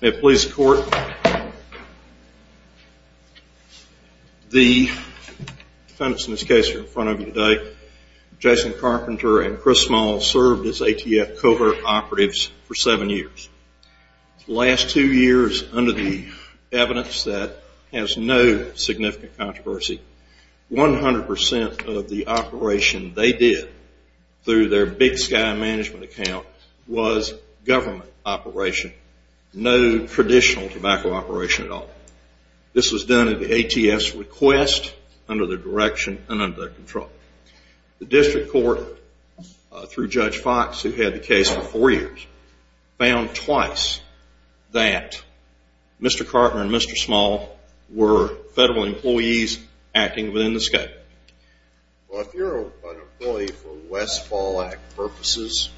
At Police Court, the defendants in this case are in front of you today. Jason Carpenter and Chris Small served as ATF Cohort Operatives for seven years. The last two years, under the evidence that has no significant controversy, 100% of the operation they did through their Big Sky management account was government operation, no traditional tobacco operation at all. This was done at the ATF's request, under their direction, and under their control. The district court, through Judge Fox, who had the case for four years, found twice that Mr. Carpenter and Mr. Small were federal employees acting within the scope. Well, if you're an employee for Westfall Act purposes,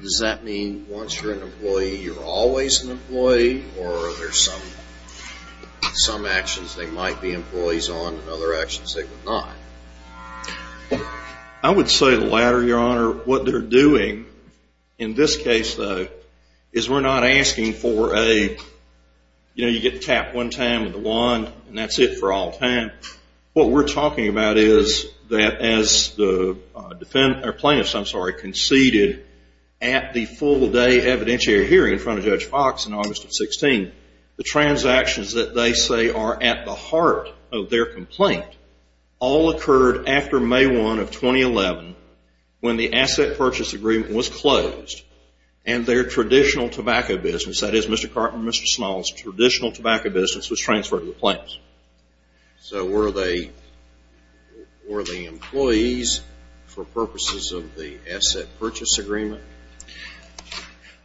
does that mean once you're an employee, you're always an employee, or are there some actions they might be employees on and other actions they would not? I would say the latter, Your Honor. What they're doing in this case, though, is we're not asking for a, you know, you get tapped one time with a wand and that's it for all time. What we're talking about is that as the plaintiffs conceded at the full-day evidentiary hearing in front of Judge Fox in August of 16, the transactions that they say are at the heart of their complaint, all occurred after May 1 of 2011 when the asset purchase agreement was closed and their traditional tobacco business, that is Mr. Carpenter and Mr. Small's traditional tobacco business, was transferred to the plaintiffs. So were they employees for purposes of the asset purchase agreement?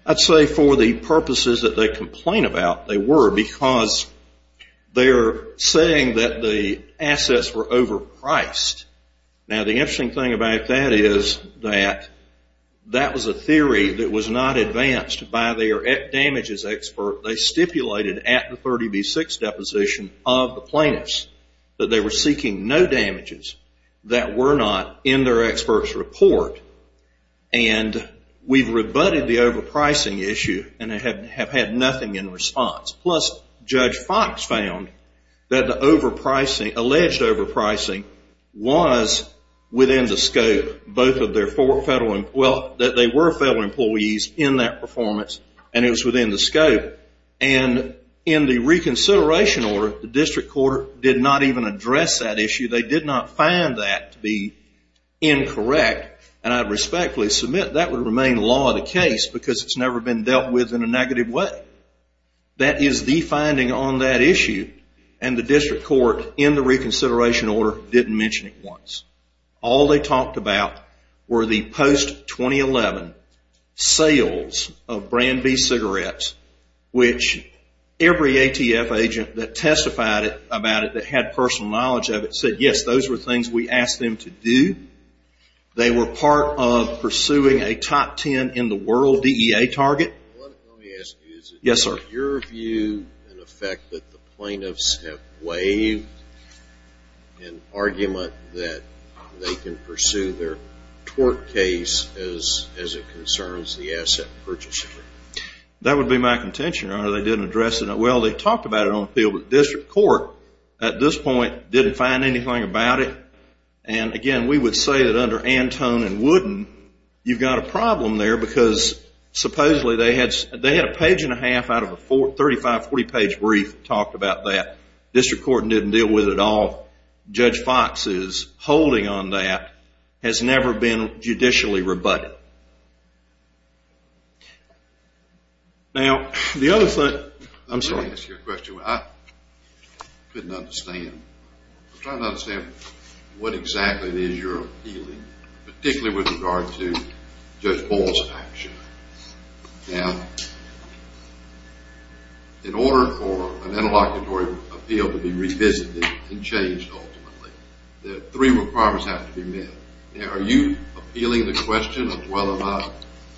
I'd say for the purposes that they complain about, they were, because they're saying that the assets were overpriced. Now, the interesting thing about that is that that was a theory that was not advanced by their damages expert. They stipulated at the 30B6 deposition of the plaintiffs that they were seeking no damages that were not in their experts' report. And we've rebutted the overpricing issue and have had nothing in response. Plus, Judge Fox found that the overpricing, alleged overpricing, was within the scope, both of their federal, well, that they were federal employees in that performance, and it was within the scope. And in the reconsideration order, the district court did not even address that issue. They did not find that to be incorrect, and I respectfully submit that would remain law of the case because it's never been dealt with in a negative way. That is the finding on that issue, and the district court, in the reconsideration order, didn't mention it once. All they talked about were the post-2011 sales of brand B cigarettes, which every ATF agent that testified about it, that had personal knowledge of it, said, yes, those were things we asked them to do. They were part of pursuing a top ten in the world DEA target. Let me ask you, is it your view and effect that the plaintiffs have waived an argument that they can pursue their tort case as it concerns the asset purchaser? That would be my contention, Your Honor. They didn't address it. Well, they talked about it on the field, but the district court, at this point, didn't find anything about it. And, again, we would say that under Antone and Wooden, you've got a problem there because, supposedly, they had a page and a half out of a 35, 40-page brief that talked about that. The district court didn't deal with it at all. Judge Fox's holding on that has never been judicially rebutted. Now, the other thing... Let me ask you a question I couldn't understand. I'm trying to understand what exactly it is you're appealing, particularly with regard to Judge Ball's action. Now, in order for an interlocutory appeal to be revisited and changed ultimately, the three requirements have to be met. Now, are you appealing the question of whether or not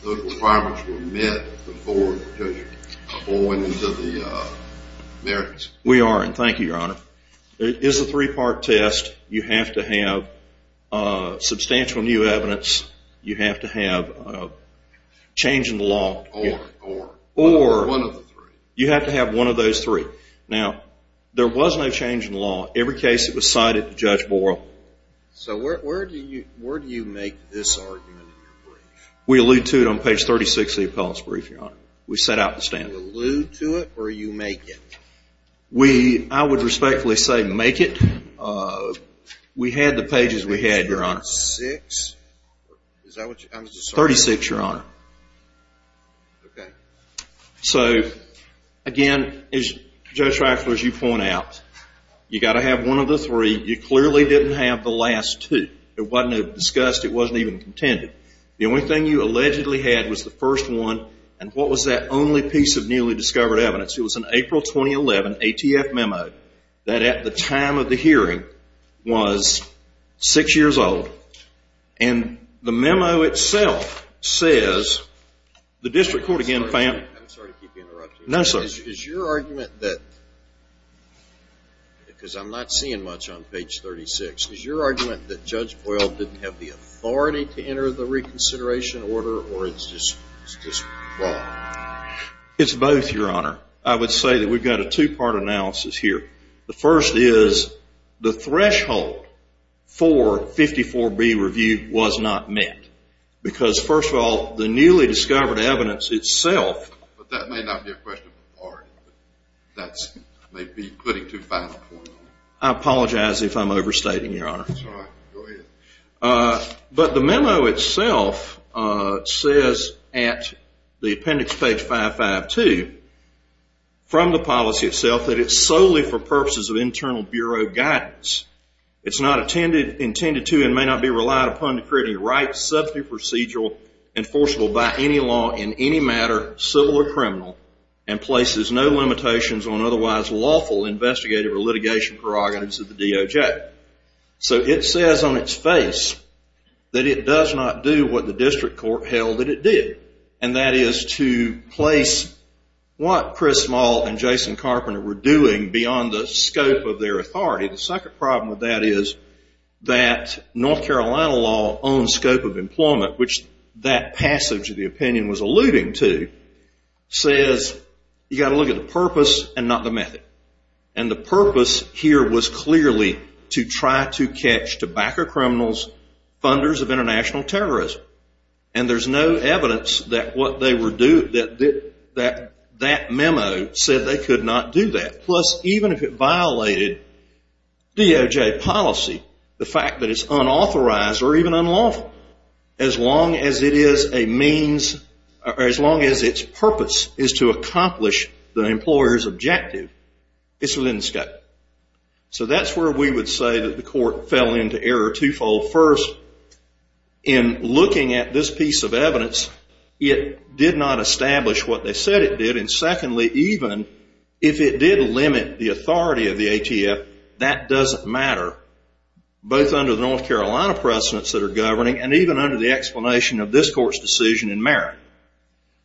those requirements were met before going into the merits? We are, and thank you, Your Honor. It is a three-part test. You have to have substantial new evidence. You have to have change in the law. Or one of the three. You have to have one of those three. Now, there was no change in the law. Every case, it was cited to Judge Ball. So where do you make this argument in your brief? We allude to it on page 36 of the appellate's brief, Your Honor. We set out the standard. You allude to it or you make it? I would respectfully say make it. We had the pages we had, Your Honor. 36? Is that what you're saying? 36, Your Honor. Okay. So, again, as Judge Drexler, as you point out, you've got to have one of the three. You clearly didn't have the last two. It wasn't discussed. It wasn't even contended. The only thing you allegedly had was the first one. And what was that only piece of newly discovered evidence? It was an April 2011 ATF memo that, at the time of the hearing, was six years old. And the memo itself says, the district court again, fam. I'm sorry to keep you interrupted. No, sir. Is your argument that, because I'm not seeing much on page 36, is your argument that Judge Boyle didn't have the authority to enter the reconsideration order or it's just wrong? It's both, Your Honor. I would say that we've got a two-part analysis here. The first is the threshold for 54B review was not met because, first of all, the newly discovered evidence itself. But that may not be a question of authority. That may be putting too fast a point. I apologize if I'm overstating, Your Honor. That's all right. Go ahead. But the memo itself says at the appendix, page 552, from the policy itself, that it's solely for purposes of internal bureau guidance. It's not intended to and may not be relied upon to create a right, substantive procedural enforceable by any law in any matter, civil or criminal, and places no limitations on otherwise lawful investigative or litigation prerogatives of the DOJ. So it says on its face that it does not do what the district court held that it did, and that is to place what Chris Small and Jason Carpenter were doing beyond the scope of their authority. The second problem with that is that North Carolina law on scope of employment, which that passage of the opinion was alluding to, says you've got to look at the purpose and not the method. And the purpose here was clearly to try to catch tobacco criminals, funders of international terrorism. And there's no evidence that that memo said they could not do that. Plus, even if it violated DOJ policy, the fact that it's unauthorized or even unlawful, as long as it is a means, or as long as its purpose is to accomplish the employer's objective, it's within the scope. So that's where we would say that the court fell into error twofold. First, in looking at this piece of evidence, it did not establish what they said it did. And secondly, even if it did limit the authority of the ATF, that doesn't matter, both under the North Carolina precedents that are governing and even under the explanation of this court's decision in Merritt,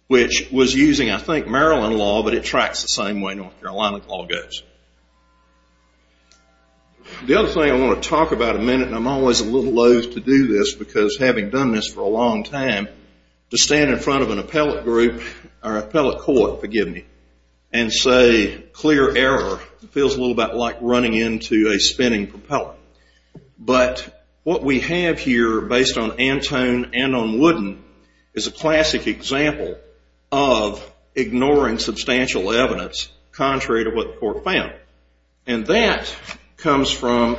which was using, I think, Maryland law, but it tracks the same way North Carolina law goes. The other thing I want to talk about in a minute, and I'm always a little loath to do this because having done this for a long time, to stand in front of an appellate group or appellate court, forgive me, and say clear error feels a little bit like running into a spinning propeller. But what we have here, based on Antone and on Wooden, is a classic example of ignoring substantial evidence contrary to what the court found. And that comes from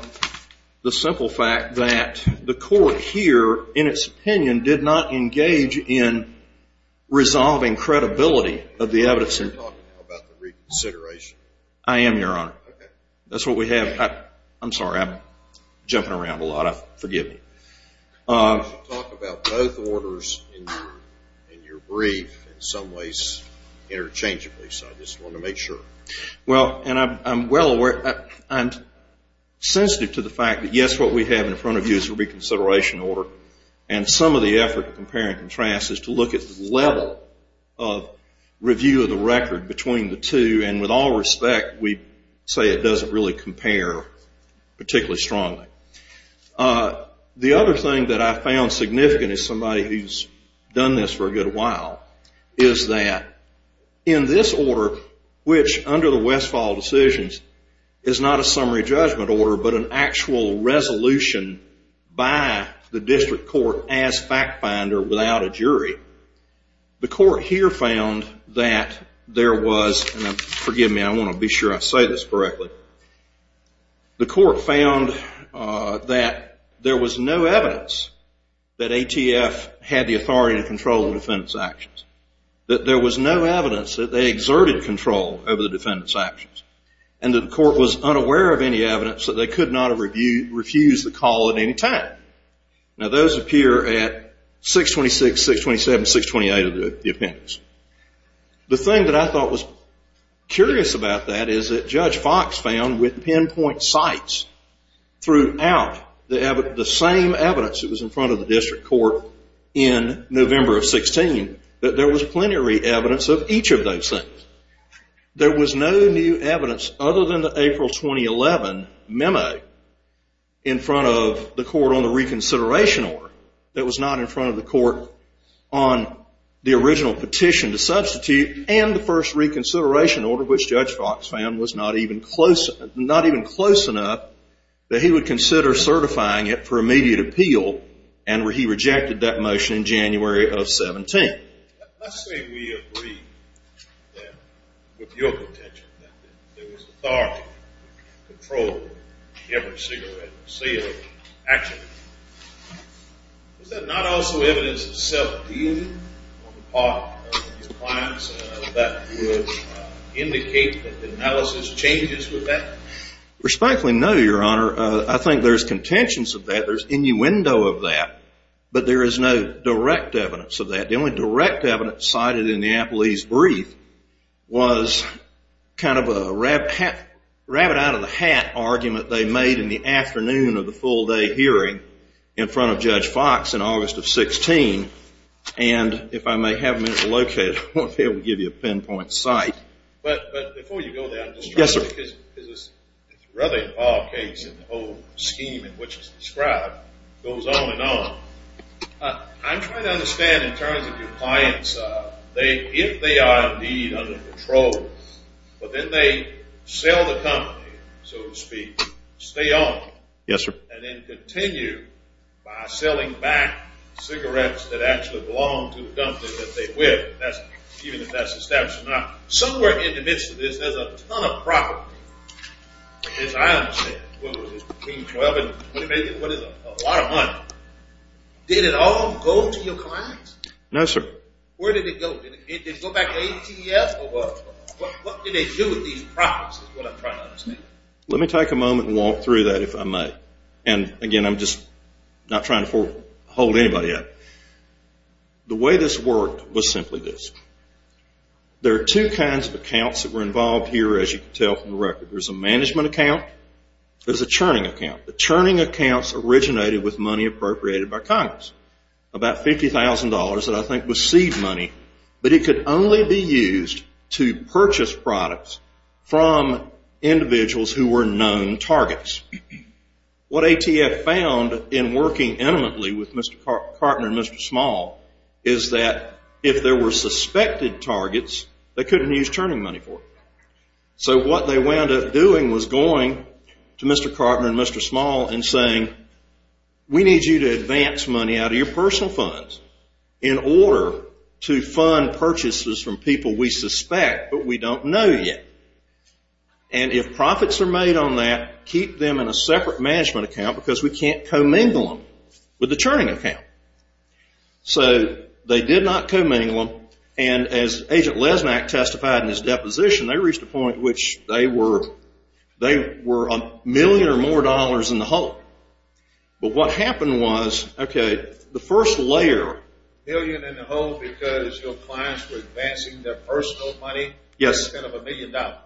the simple fact that the court here, in its opinion, did not engage in resolving credibility of the evidence. You're talking about the reconsideration. I am, Your Honor. Okay. That's what we have. I'm sorry. I'm jumping around a lot. Forgive me. You talk about both orders in your brief in some ways interchangeably, so I just wanted to make sure. Well, and I'm well aware. I'm sensitive to the fact that, yes, what we have in front of you is a reconsideration order, and some of the effort to compare and contrast is to look at the level of review of the record between the two, and with all respect, we say it doesn't really compare particularly strongly. The other thing that I found significant, as somebody who's done this for a good while, is that in this order, which under the Westfall decisions is not a summary judgment order but an actual resolution by the district court as fact finder without a jury, the court here found that there was, and forgive me. I want to be sure I say this correctly. The court found that there was no evidence that ATF had the authority to control the defendant's actions, that there was no evidence that they exerted control over the defendant's actions, and that the court was unaware of any evidence that they could not have refused the call at any time. Now, those appear at 626, 627, 628 of the appendix. The thing that I thought was curious about that is that Judge Fox found with pinpoint sites throughout the same evidence that was in front of the district court in November of 16, that there was plenary evidence of each of those things. There was no new evidence other than the April 2011 memo in front of the court on the reconsideration order. It was not in front of the court on the original petition to substitute and the first reconsideration order, which Judge Fox found was not even close enough that he would consider certifying it for immediate appeal, and he rejected that motion in January of 17. Let's say we agree with your contention that there was authority to control every cigarette sale action. Is that not also evidence of self-dealing on the part of the clients that would indicate that the analysis changes with that? Respectfully, no, Your Honor. I think there's contentions of that, there's innuendo of that, but there is no direct evidence of that. The only direct evidence cited in the appellee's brief was kind of a rabbit out of the hat argument they made in the afternoon of the full day hearing in front of Judge Fox in August of 16, and if I may have a minute to locate it, I won't be able to give you a pinpoint site. But before you go there, I'm just trying to... Yes, sir. Because this rubbing off case and the whole scheme in which it's described goes on and on. I'm trying to understand in terms of your clients, if they are indeed under control, but then they sell the company, so to speak, stay on, and then continue by selling back cigarettes that actually belong to the company that they went, even if that's established or not. Somewhere in the midst of this, there's a ton of property. Yes, I understand. What was it, $1,212? What is it? A lot of money. Did it all go to your clients? No, sir. Where did it go? Did it go back to ATF? What did they do with these properties is what I'm trying to understand. Let me take a moment and walk through that, if I may. And, again, I'm just not trying to hold anybody up. The way this worked was simply this. There are two kinds of accounts that were involved here, as you can tell from the record. There's a management account. There's a churning account. The churning accounts originated with money appropriated by Congress, about $50,000 that I think was seed money, but it could only be used to purchase products from individuals who were known targets. What ATF found in working intimately with Mr. Karpner and Mr. Small is that if there were suspected targets, they couldn't use churning money for it. So what they wound up doing was going to Mr. Karpner and Mr. Small and saying, we need you to advance money out of your personal funds in order to fund purchases from people we suspect but we don't know yet. And if profits are made on that, keep them in a separate management account because we can't commingle them with the churning account. So they did not commingle them. And as Agent Lesmak testified in his deposition, they reached a point which they were a million or more dollars in the hole. But what happened was, okay, the first layer. A million in the hole because your clients were advancing their personal money? Yes. A million dollars.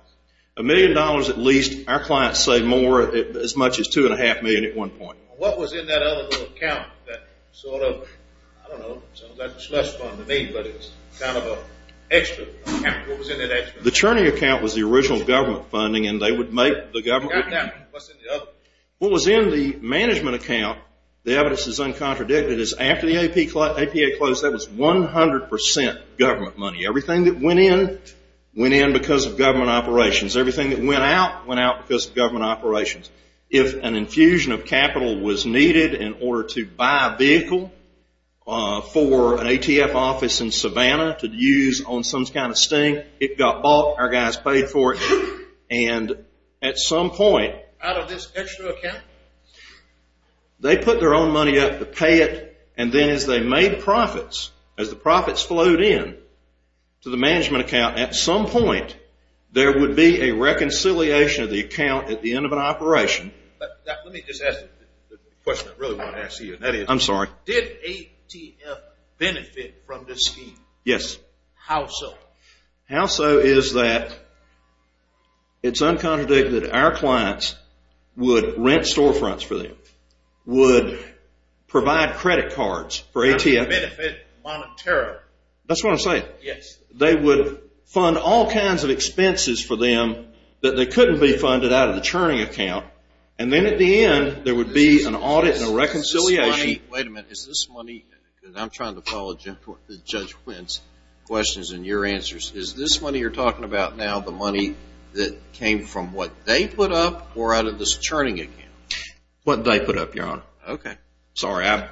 A million dollars at least. Our clients say more, as much as $2.5 million at one point. What was in that other account that sort of, I don't know, sounds like a slush fund to me, but it's kind of an extra. What was in that extra? The churning account was the original government funding, and they would make the government. What was in the other? What was in the management account, the evidence is uncontradicted, is after the APA closed, that was 100% government money. Everything that went in, went in because of government operations. Everything that went out, went out because of government operations. If an infusion of capital was needed in order to buy a vehicle for an ATF office in Savannah to use on some kind of sting, it got bought. Our guys paid for it. And at some point, out of this extra account, they put their own money up to pay it, and then as they made profits, as the profits flowed in to the management account, at some point there would be a reconciliation of the account at the end of an operation. Let me just ask the question I really want to ask you. I'm sorry. Did ATF benefit from this scheme? Yes. How so? How so is that it's uncontradicted that our clients would rent storefronts for them, would provide credit cards for ATF? They would benefit monetarily. That's what I'm saying. Yes. They would fund all kinds of expenses for them that they couldn't be funded out of the churning account, and then at the end there would be an audit and a reconciliation. Wait a minute. Is this money, because I'm trying to follow Judge Wendt's questions and your answers, is this money you're talking about now the money that came from what they put up or out of this churning account? What they put up, Your Honor. Okay. Sorry. I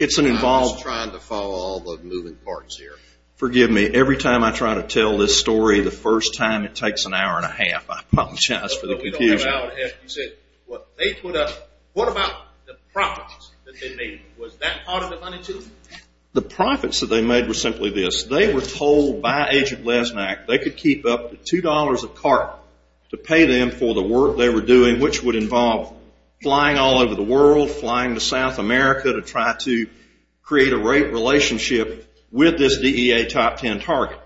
was trying to follow all the moving parts here. Forgive me. Every time I try to tell this story, the first time it takes an hour and a half. I apologize for the confusion. You said what they put up. What about the profits that they made? Was that part of the money too? The profits that they made were simply this. They were told by Agent Lesnack they could keep up to $2 a cart to pay them for the work they were doing, which would involve flying all over the world, flying to South America to try to create a rate relationship with this DEA Top Ten target.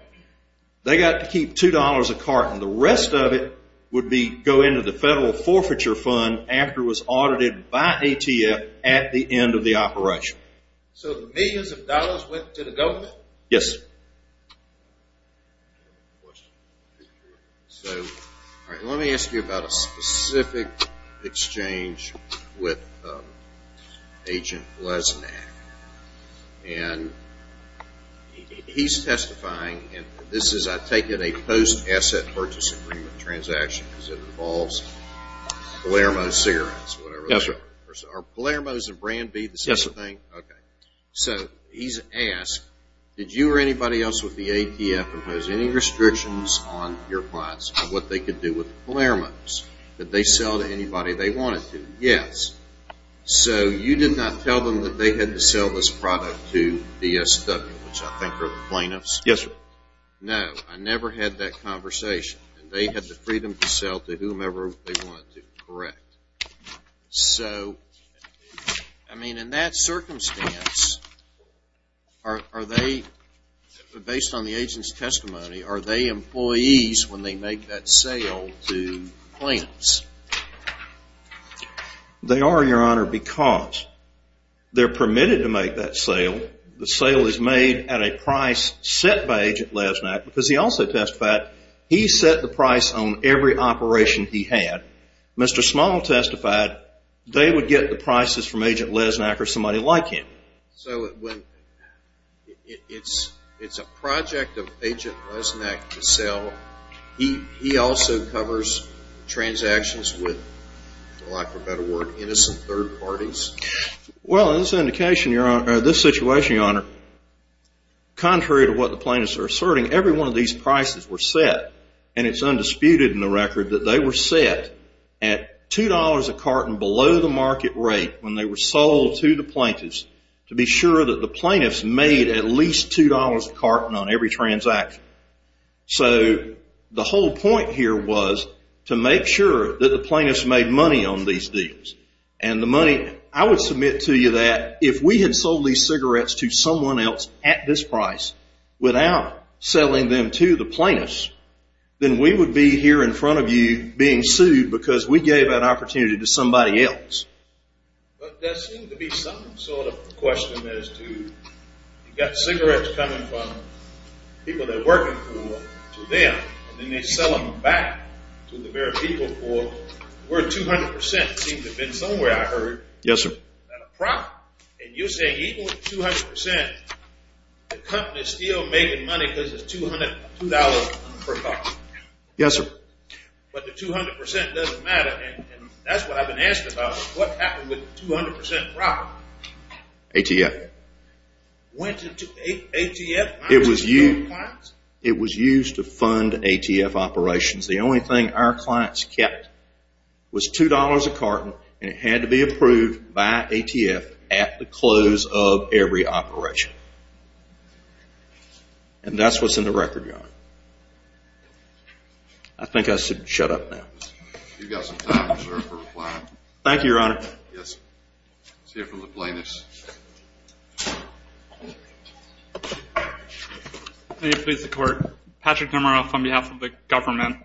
They got to keep $2 a cart, and the rest of it would go into the federal forfeiture fund after it was audited by ATF at the end of the operation. So the millions of dollars went to the government? Yes. So let me ask you about a specific exchange with Agent Lesnack. And he's testifying, and this is, I take it, a post-asset purchase agreement transaction because it involves Palermo Cigarettes or whatever. Yes, sir. Are Palermo's and Brand B the same thing? Yes, sir. Okay. So he's asked, did you or anybody else with the ATF impose any restrictions on your clients on what they could do with Palermo's? Did they sell to anybody they wanted to? Yes. So you did not tell them that they had to sell this product to DSW, which I think are the plaintiffs? Yes, sir. No, I never had that conversation. They had the freedom to sell to whomever they wanted to, correct? So, I mean, in that circumstance, are they, based on the agent's testimony, are they employees when they make that sale to the plaintiffs? They are, Your Honor, because they're permitted to make that sale. The sale is made at a price set by Agent Lesnack because he also testified he set the price on every operation he had. Mr. Small testified they would get the prices from Agent Lesnack or somebody like him. So it's a project of Agent Lesnack to sell. He also covers transactions with, for lack of a better word, innocent third parties? Well, in this situation, Your Honor, contrary to what the plaintiffs are asserting, every one of these prices were set, and it's undisputed in the record that they were set at $2 a carton below the market rate when they were sold to the plaintiffs to be sure that the plaintiffs made at least $2 a carton on every transaction. So the whole point here was to make sure that the plaintiffs made money on these deals. And the money, I would submit to you that if we had sold these cigarettes to someone else at this price without selling them to the plaintiffs, then we would be here in front of you being sued because we gave that opportunity to somebody else. But there seems to be some sort of question as to you've got cigarettes coming from people they're working for to them, and then they sell them back to the very people for worth 200%. It seems to have been somewhere, I heard. Yes, sir. And you're saying even with 200%, the company's still making money because it's $2 per carton. Yes, sir. But the 200% doesn't matter, and that's what I've been asked about. What happened with the 200% profit? ATF. Went into ATF? It was used to fund ATF operations. The only thing our clients kept was $2 a carton, and it had to be approved by ATF at the close of every operation. And that's what's in the record, Your Honor. I think I should shut up now. You've got some time, sir, for replying. Thank you, Your Honor. Yes. Let's hear from the plaintiffs. May it please the Court. Patrick Demaroff on behalf of the government.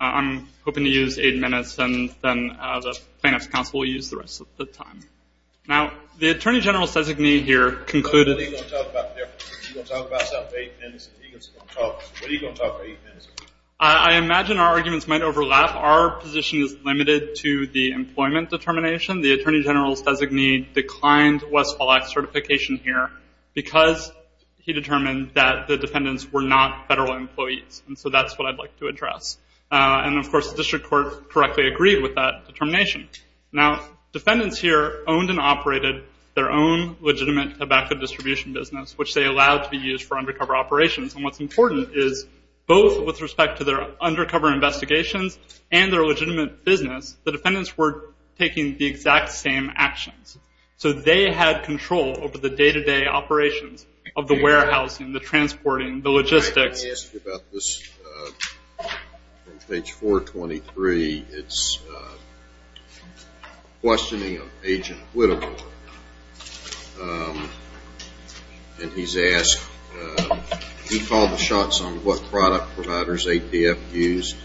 I'm hoping to use eight minutes, and then the plaintiffs' counsel will use the rest of the time. Now, the Attorney General's designee here concluded. What are you going to talk about for eight minutes? I imagine our arguments might overlap. Our position is limited to the employment determination. The Attorney General's designee declined Westfall Act certification here because he determined that the defendants were not federal employees, and so that's what I'd like to address. And, of course, the district court correctly agreed with that determination. Now, defendants here owned and operated their own legitimate tobacco distribution business, which they allowed to be used for undercover operations. And what's important is both with respect to their undercover investigations and their legitimate business, the defendants were taking the exact same actions. So they had control over the day-to-day operations of the warehousing, the transporting, the logistics. I asked you about this on page 423. It's questioning of Agent Whittlemore. And he's asked, do you call the shots on what product providers APF used?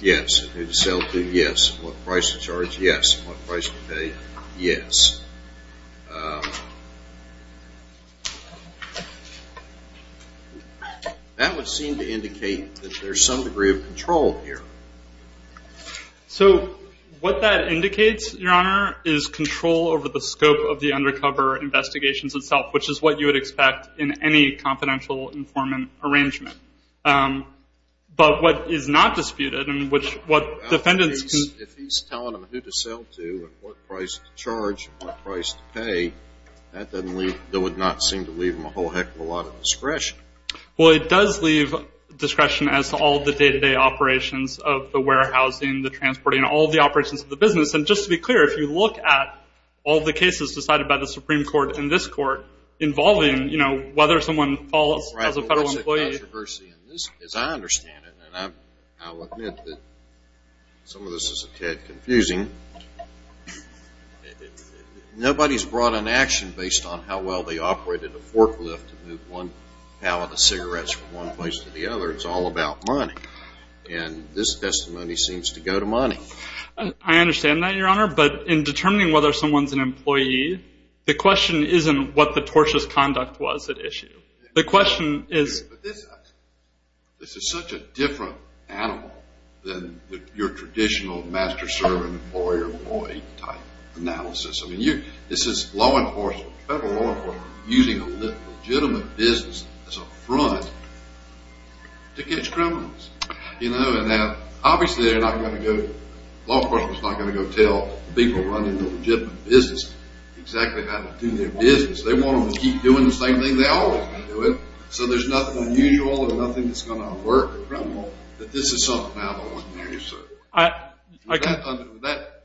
Yes. And who to sell to? Yes. And what price to charge? Yes. And what price to pay? Yes. That would seem to indicate that there's some degree of control here. So what that indicates, Your Honor, is control over the scope of the undercover investigations itself, which is what you would expect in any confidential informant arrangement. But what is not disputed and what defendants can do is what price to charge and what price to pay. That would not seem to leave them a whole heck of a lot of discretion. Well, it does leave discretion as to all the day-to-day operations of the warehousing, the transporting, all the operations of the business. And just to be clear, if you look at all the cases decided by the Supreme Court in this court involving, you know, whether someone falls as a federal employee. As I understand it, and I'll admit that some of this is a tad confusing, nobody's brought an action based on how well they operated a forklift to move one pallet of cigarettes from one place to the other. It's all about money. And this testimony seems to go to money. I understand that, Your Honor. But in determining whether someone's an employee, the question isn't what the tortious conduct was at issue. The question is. This is such a different animal than your traditional master-servant, employer-employee type analysis. I mean, this is law enforcement, federal law enforcement, using a legitimate business as a front to catch criminals. You know, and obviously they're not going to go, law enforcement's not going to go tell people running a legitimate business exactly how to do their business. They want them to keep doing the same thing they've always been doing. So there's nothing unusual or nothing that's going to alert the criminal that this is something out of ordinary. So with that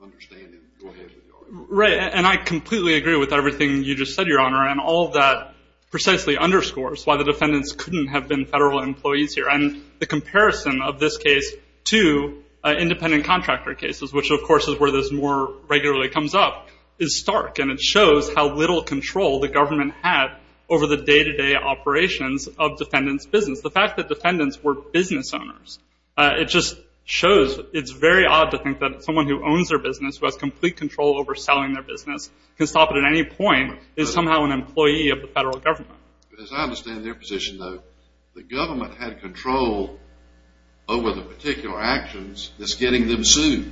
understanding, go ahead with your argument. Right. And I completely agree with everything you just said, Your Honor. And all of that precisely underscores why the defendants couldn't have been federal employees here. And the comparison of this case to independent contractor cases, which of course is where this more regularly comes up, is stark. And it shows how little control the government had over the day-to-day operations of defendants' business. The fact that defendants were business owners, it just shows. It's very odd to think that someone who owns their business, who has complete control over selling their business, can stop it at any point, is somehow an employee of the federal government. As I understand their position, though, the government had control over the particular actions that's getting them sued.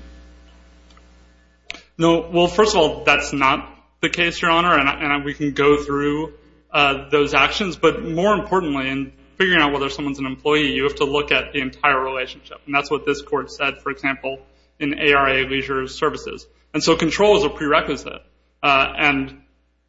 Well, first of all, that's not the case, Your Honor, and we can go through those actions. But more importantly, in figuring out whether someone's an employee, you have to look at the entire relationship. And that's what this court said, for example, in ARA Leisure Services. And so control is a prerequisite. And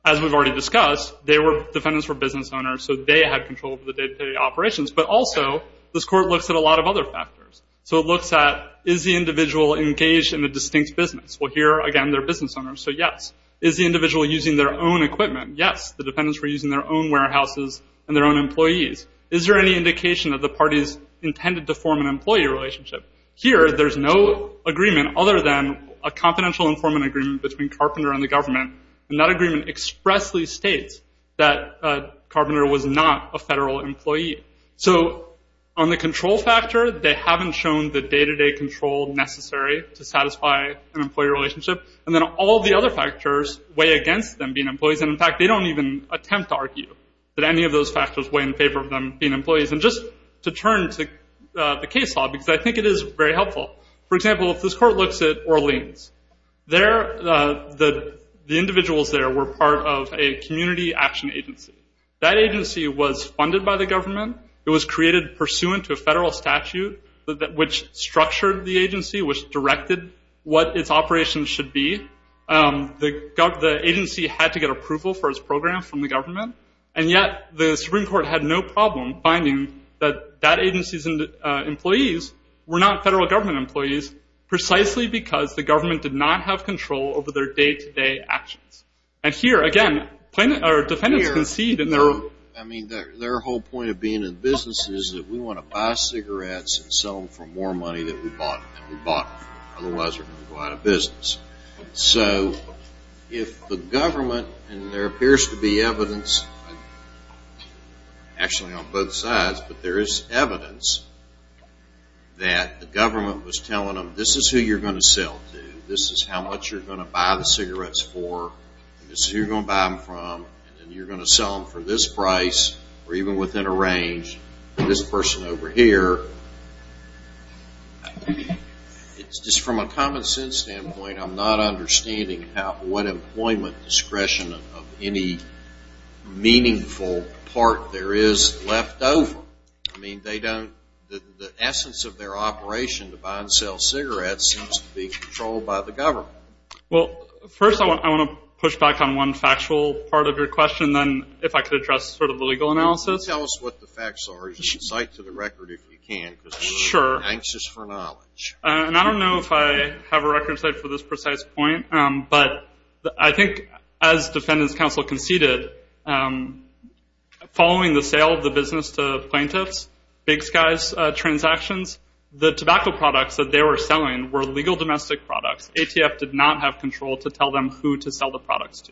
as we've already discussed, defendants were business owners, so they had control over the day-to-day operations. But also this court looks at a lot of other factors. So it looks at, is the individual engaged in a distinct business? Well, here, again, they're business owners, so yes. Is the individual using their own equipment? Yes. The defendants were using their own warehouses and their own employees. Is there any indication that the parties intended to form an employee relationship? Here, there's no agreement other than a confidential informant agreement between Carpenter and the government, and that agreement expressly states that Carpenter was not a federal employee. So on the control factor, they haven't shown the day-to-day control necessary to satisfy an employee relationship. And then all the other factors weigh against them being employees. And, in fact, they don't even attempt to argue that any of those factors weigh in favor of them being employees. And just to turn to the case law, because I think it is very helpful. For example, if this court looks at Orleans, the individuals there were part of a community action agency. That agency was funded by the government. It was created pursuant to a federal statute which structured the agency, which directed what its operations should be. The agency had to get approval for its program from the government, and yet the Supreme Court had no problem finding that that agency's employees were not federal government employees precisely because the government did not have control over their day-to-day actions. And here, again, defendants concede. I mean, their whole point of being in business is that we want to buy cigarettes and sell them for more money than we bought. Otherwise, we're going to go out of business. So if the government, and there appears to be evidence, actually on both sides, but there is evidence that the government was telling them, this is who you're going to sell to. This is how much you're going to buy the cigarettes for. This is who you're going to buy them from. And you're going to sell them for this price or even within a range to this person over here. It's just from a common sense standpoint, I'm not understanding what employment discretion of any meaningful part there is left over. I mean, they don't, the essence of their operation to buy and sell cigarettes seems to be controlled by the government. Well, first I want to push back on one factual part of your question and then if I could address sort of the legal analysis. Tell us what the facts are. You should cite to the record if you can because we're anxious for knowledge. And I don't know if I have a record for this precise point, but I think as defendants counsel conceded, following the sale of the business to plaintiffs, Big Sky's transactions, the tobacco products that they were selling were legal domestic products. ATF did not have control to tell them who to sell the products to.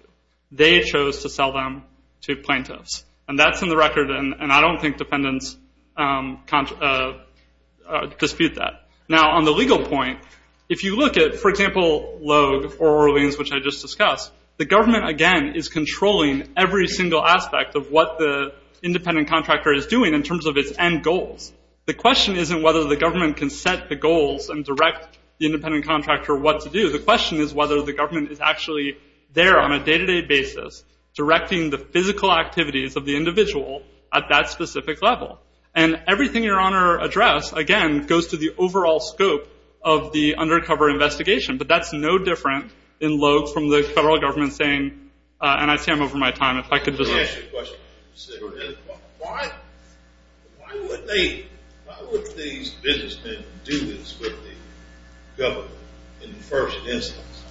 They chose to sell them to plaintiffs. And that's in the record, and I don't think defendants dispute that. Now, on the legal point, if you look at, for example, Logue or Orleans, which I just discussed, the government again is controlling every single aspect of what the independent contractor is doing in terms of its end goals. The question isn't whether the government can set the goals and direct the independent contractor what to do. The question is whether the government is actually there on a day-to-day basis directing the physical activities of the individual at that specific level. And everything Your Honor addressed, again, goes to the overall scope of the undercover investigation. But that's no different in Logue from the federal government saying, and I see I'm over my time. If I could just ask you a question. Why would these businessmen do this with the government in the first instance?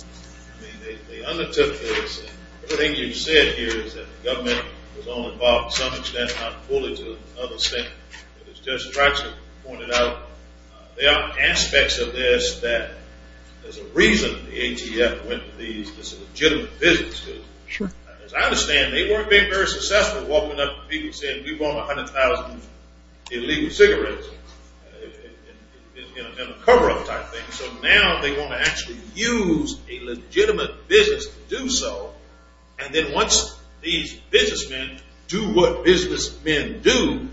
I mean, they undertook this. Everything you've said here is that the government was only involved to some extent, not fully, to another extent. As Judge Stratzer pointed out, there are aspects of this that there's a reason the ATF went to these legitimate businesses. As I understand, they weren't being very successful walking up to people and saying, we want 100,000 illegal cigarettes. It's going to be a cover-up type thing. So now they want to actually use a legitimate business to do so. And then once these businessmen do what businessmen do,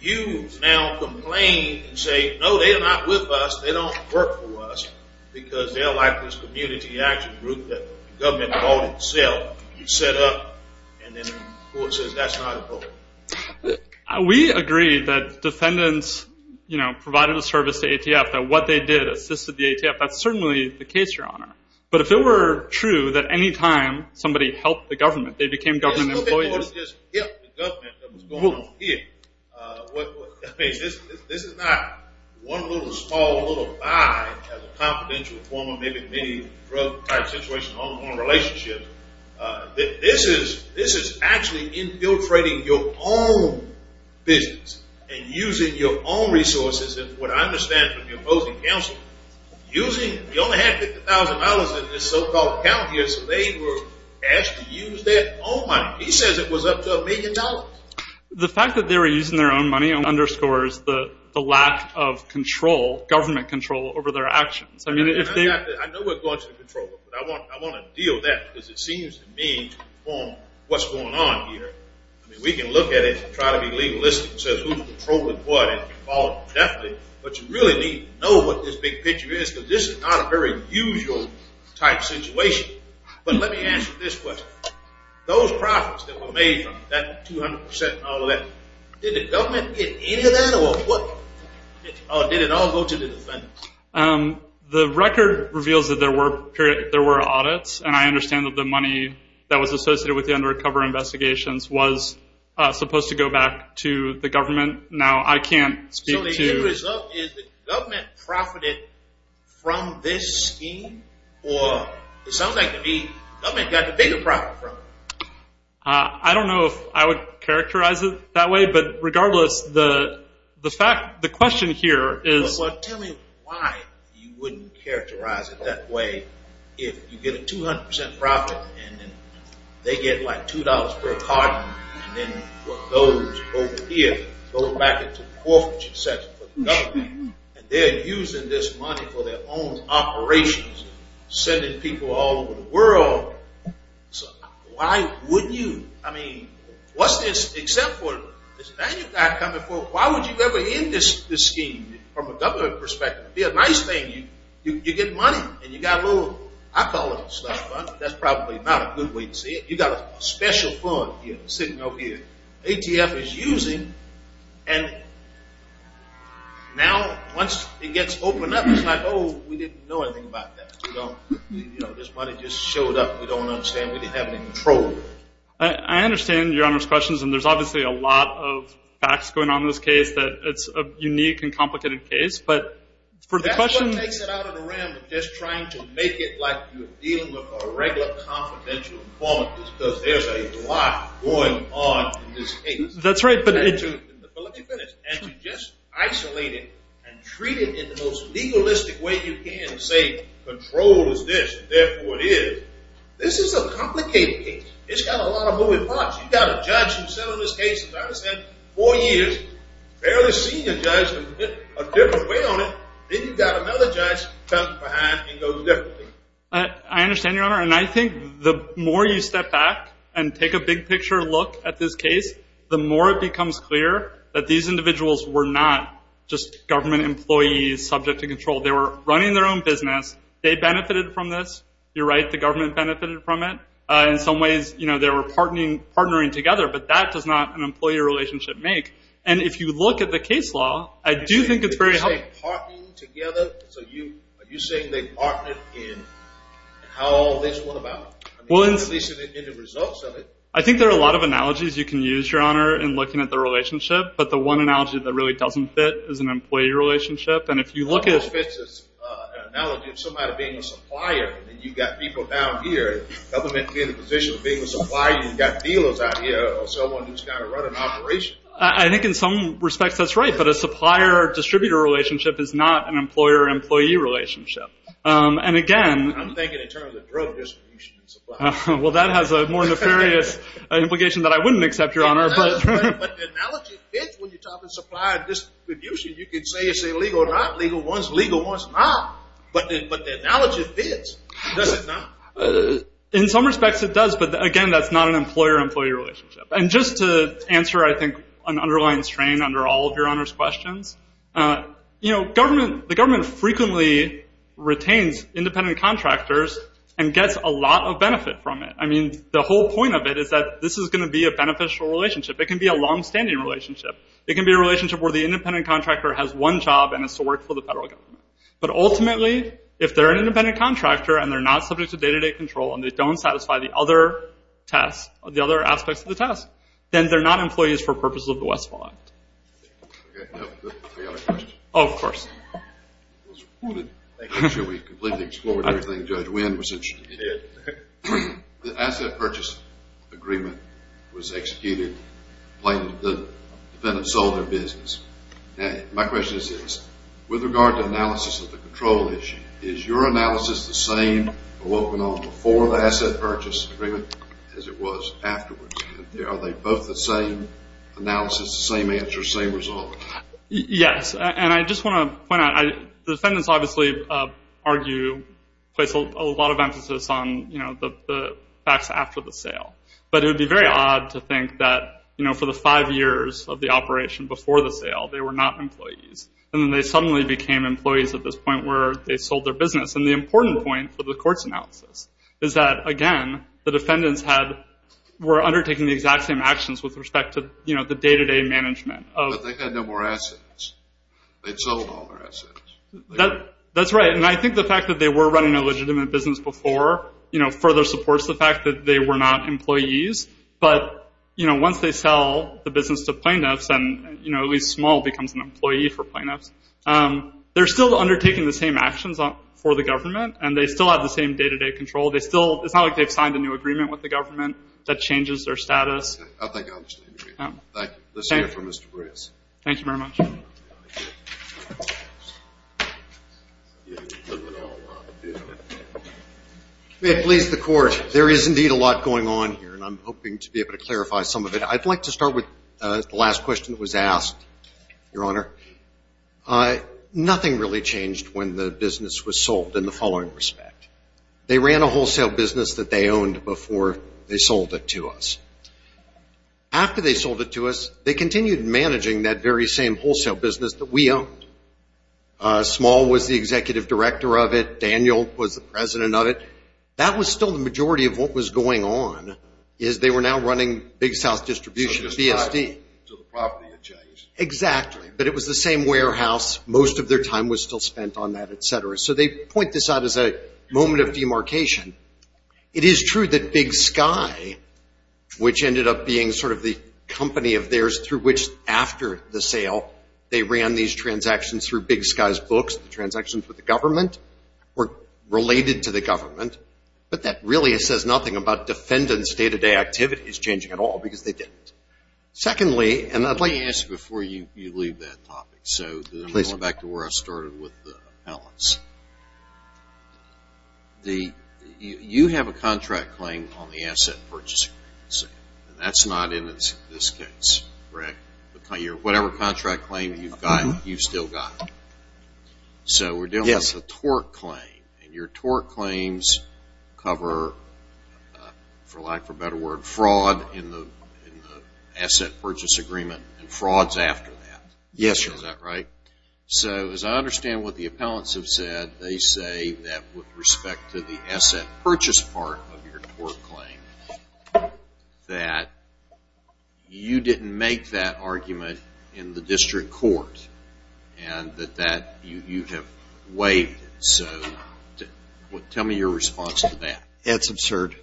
you now complain and say, no, they are not with us. They don't work for us because they're like this community action group that the government called itself. You set up and then the court says that's not appropriate. We agree that defendants provided a service to ATF, that what they did assisted the ATF. That's certainly the case, Your Honor. But if it were true that any time somebody helped the government, they became government employees. This is not one little small little buy as a confidential form of maybe drug-type situation on a relationship. This is actually infiltrating your own business and using your own resources. And what I understand from the opposing counsel, using the only half $50,000 in this so-called account here, so they were asked to use their own money. He says it was up to a million dollars. The fact that they were using their own money underscores the lack of control, government control over their actions. I know we're going to control it, but I want to deal with that because it seems to me to inform what's going on here. We can look at it and try to be legalistic and say who's controlling what and call it deftly, but you really need to know what this big picture is because this is not a very usual type situation. But let me answer this question. Those profits that were made from that 200% and all of that, did the government get any of that or what? Or did it all go to the defendants? The record reveals that there were audits, and I understand that the money that was associated with the undercover investigations was supposed to go back to the government. Now, I can't speak to... So the end result is the government profited from this scheme, or it sounds like the government got the bigger profit from it. I don't know if I would characterize it that way, but regardless, the question here is... So tell me why you wouldn't characterize it that way if you get a 200% profit and they get like $2 per card and then what goes over here goes back into the forfeiture section for the government and they're using this money for their own operations, sending people all over the world. Why would you? I mean, what's this? Why would you ever end this scheme from a government perspective? It would be a nice thing. You get money and you got a little... I call it a slush fund. That's probably not a good way to say it. You got a special fund sitting over here. ATF is using and now once it gets opened up, it's like, oh, we didn't know anything about that. This money just showed up. We don't understand. We didn't have any control. I understand Your Honor's questions, and there's obviously a lot of facts going on in this case that it's a unique and complicated case, but for the question... That's what makes it out of the realm of just trying to make it like you're dealing with a regular confidential informant because there's a lot going on in this case. That's right, but... But let me finish. And to just isolate it and treat it in the most legalistic way you can and say control is this and therefore it is, this is a complicated case. It's got a lot of moving parts. You've got a judge who sat on this case, as I understand, four years, barely seen a judge, a different weight on it, then you've got another judge coming behind and it goes differently. I understand, Your Honor, and I think the more you step back and take a big picture look at this case, the more it becomes clear that these individuals were not just government employees subject to control. They were running their own business. They benefited from this. You're right, the government benefited from it. In some ways they were partnering together, but that does not an employee relationship make. And if you look at the case law, I do think it's very helpful. Did you say partnering together? Are you saying they partnered in how all this went about? I mean, at least in the results of it. I think there are a lot of analogies you can use, Your Honor, in looking at the relationship, but the one analogy that really doesn't fit is an employee relationship. And if you look at the analogy of somebody being a supplier and you've got people down here, government being in a position of being a supplier, you've got dealers out here or someone who's got to run an operation. I think in some respects that's right, but a supplier-distributor relationship is not an employer-employee relationship. I'm thinking in terms of drug distribution and supply. Well, that has a more nefarious implication that I wouldn't accept, Your Honor. But the analogy fits when you talk about supplier distribution. You can say it's legal or not. Legal one's legal, one's not. But the analogy fits, does it not? In some respects it does, but, again, that's not an employer-employee relationship. And just to answer, I think, an underlying strain under all of Your Honor's questions, the government frequently retains independent contractors and gets a lot of benefit from it. I mean, the whole point of it is that this is going to be a beneficial relationship. It can be a longstanding relationship. It can be a relationship where the independent contractor has one job and it's to work for the federal government. But ultimately, if they're an independent contractor and they're not subject to day-to-day control and they don't satisfy the other aspects of the task, then they're not employees for purposes of the Westfall Act. Okay, now I've got a question. Oh, of course. It was reported. I'm sure we've completely explored everything. Judge Wynn was interested in it. The asset purchase agreement was executed. The defendant sold their business. My question is this. With regard to analysis of the control issue, is your analysis the same or what went on before the asset purchase agreement as it was afterwards? Are they both the same analysis, the same answer, same result? Yes. And I just want to point out the defendants obviously argue, place a lot of emphasis on the facts after the sale. But it would be very odd to think that, you know, for the five years of the operation before the sale, they were not employees. And then they suddenly became employees at this point where they sold their business. And the important point for the court's analysis is that, again, the defendants were undertaking the exact same actions with respect to, you know, the day-to-day management. But they had no more assets. They'd sold all their assets. That's right. And I think the fact that they were running a legitimate business before, you know, further supports the fact that they were not employees. But, you know, once they sell the business to plaintiffs, and, you know, at least Small becomes an employee for plaintiffs, they're still undertaking the same actions for the government and they still have the same day-to-day control. They still – it's not like they've signed a new agreement with the government that changes their status. Okay. I think I understand. Thank you. Let's hear from Mr. Breas. Thank you very much. We have pleased the court. There is indeed a lot going on here, and I'm hoping to be able to clarify some of it. I'd like to start with the last question that was asked, Your Honor. Nothing really changed when the business was sold in the following respect. They ran a wholesale business that they owned before they sold it to us. After they sold it to us, they continued managing that very same wholesale business that we owned. Small was the executive director of it. Daniel was the president of it. That was still the majority of what was going on, is they were now running Big South Distribution, BSD. So it just died off until the property had changed. Exactly. But it was the same warehouse. Most of their time was still spent on that, et cetera. So they point this out as a moment of demarcation. It is true that Big Sky, which ended up being sort of the company of theirs through which, after the sale, they ran these transactions through Big Sky's books, the transactions with the government, were related to the government. But that really says nothing about defendants' day-to-day activities changing at all, because they didn't. Secondly, and I'd like to – Let me ask you before you leave that topic. I'm going back to where I started with the balance. You have a contract claim on the asset purchase agreement, and that's not in this case, correct? Whatever contract claim you've got, you've still got it. Yes. So we're dealing with a torque claim, and your torque claims cover, for lack of a better word, fraud in the asset purchase agreement and frauds after that. Yes. Is that right? So as I understand what the appellants have said, they say that with respect to the asset purchase part of your torque claim, that you didn't make that argument in the district court, and that you have waived it. So tell me your response to that. It's absurd.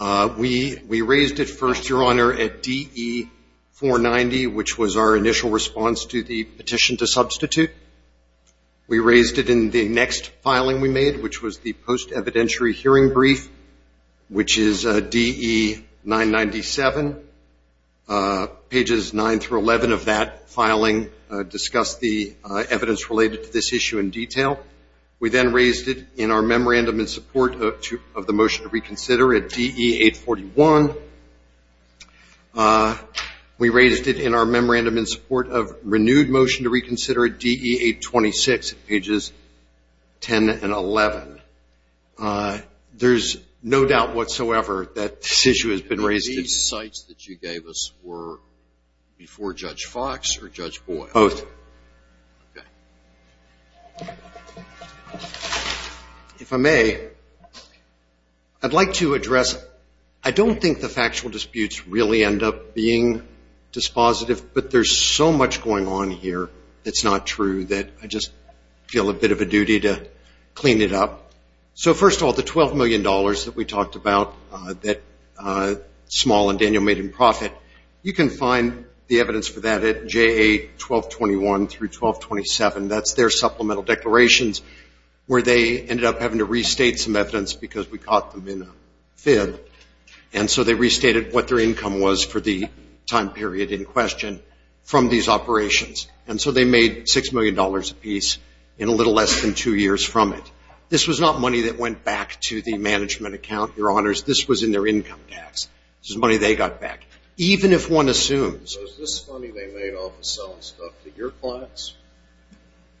We raised it first, Your Honor, at DE 490, which was our initial response to the petition to substitute. We raised it in the next filing we made, which was the post-evidentiary hearing brief, which is DE 997. Pages 9 through 11 of that filing discuss the evidence related to this issue in detail. We then raised it in our memorandum in support of the motion to reconsider at DE 841. We raised it in our memorandum in support of renewed motion to reconsider at DE 826, pages 10 and 11. There's no doubt whatsoever that this issue has been raised. And these sites that you gave us were before Judge Fox or Judge Boyle? Both. Okay. If I may, I'd like to address, I don't think the factual disputes really end up being dispositive, but there's so much going on here that's not true that I just feel a bit of a duty to clean it up. So first of all, the $12 million that we talked about that Small and Daniel made in profit, you can find the evidence for that at JA 1221 through 1227. That's their supplemental declarations where they ended up having to restate some evidence because we caught them in a fib. And so they restated what their income was for the time period in question from these operations. And so they made $6 million apiece in a little less than two years from it. This was not money that went back to the management account, Your Honors. This was in their income tax. This was money they got back, even if one assumes. So is this money they made off of selling stuff to your clients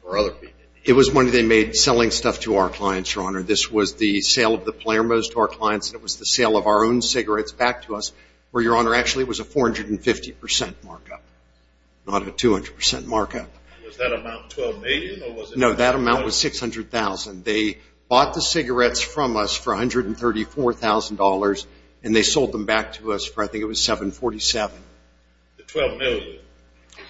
or other people? It was money they made selling stuff to our clients, Your Honor. This was the sale of the Palermos to our clients. It was the sale of our own cigarettes back to us where, Your Honor, actually it was a 450% markup, not a 200% markup. Was that amount $12 million or was it? No, that amount was $600,000. They bought the cigarettes from us for $134,000, and they sold them back to us for I think it was $747,000. The $12 million. Is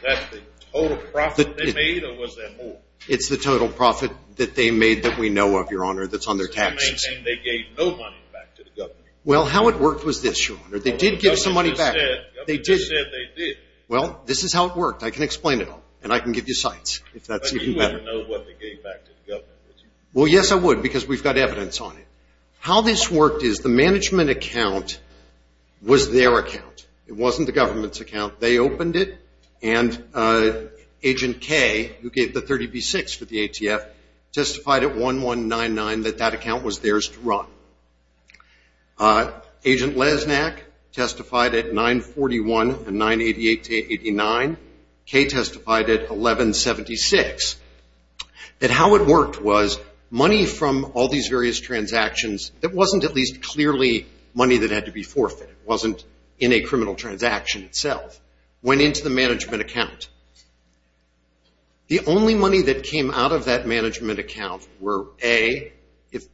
that the total profit they made or was there more? It's the total profit that they made that we know of, Your Honor, that's on their taxes. And they gave no money back to the government? Well, how it worked was this, Your Honor. They did give some money back. The government said they did. Well, this is how it worked. I can explain it all, and I can give you sites if that's even better. You wouldn't know what they gave back to the government, would you? Well, yes, I would because we've got evidence on it. How this worked is the management account was their account. It wasn't the government's account. They opened it, and Agent K, who gave the 30B6 for the ATF, testified at 1-1-9-9 that that account was theirs to run. Agent Lesnak testified at 9-41 and 9-88-89. K testified at 11-76. And how it worked was money from all these various transactions, it wasn't at least clearly money that had to be forfeited. It wasn't in a criminal transaction itself. It went into the management account. The only money that came out of that management account were, A,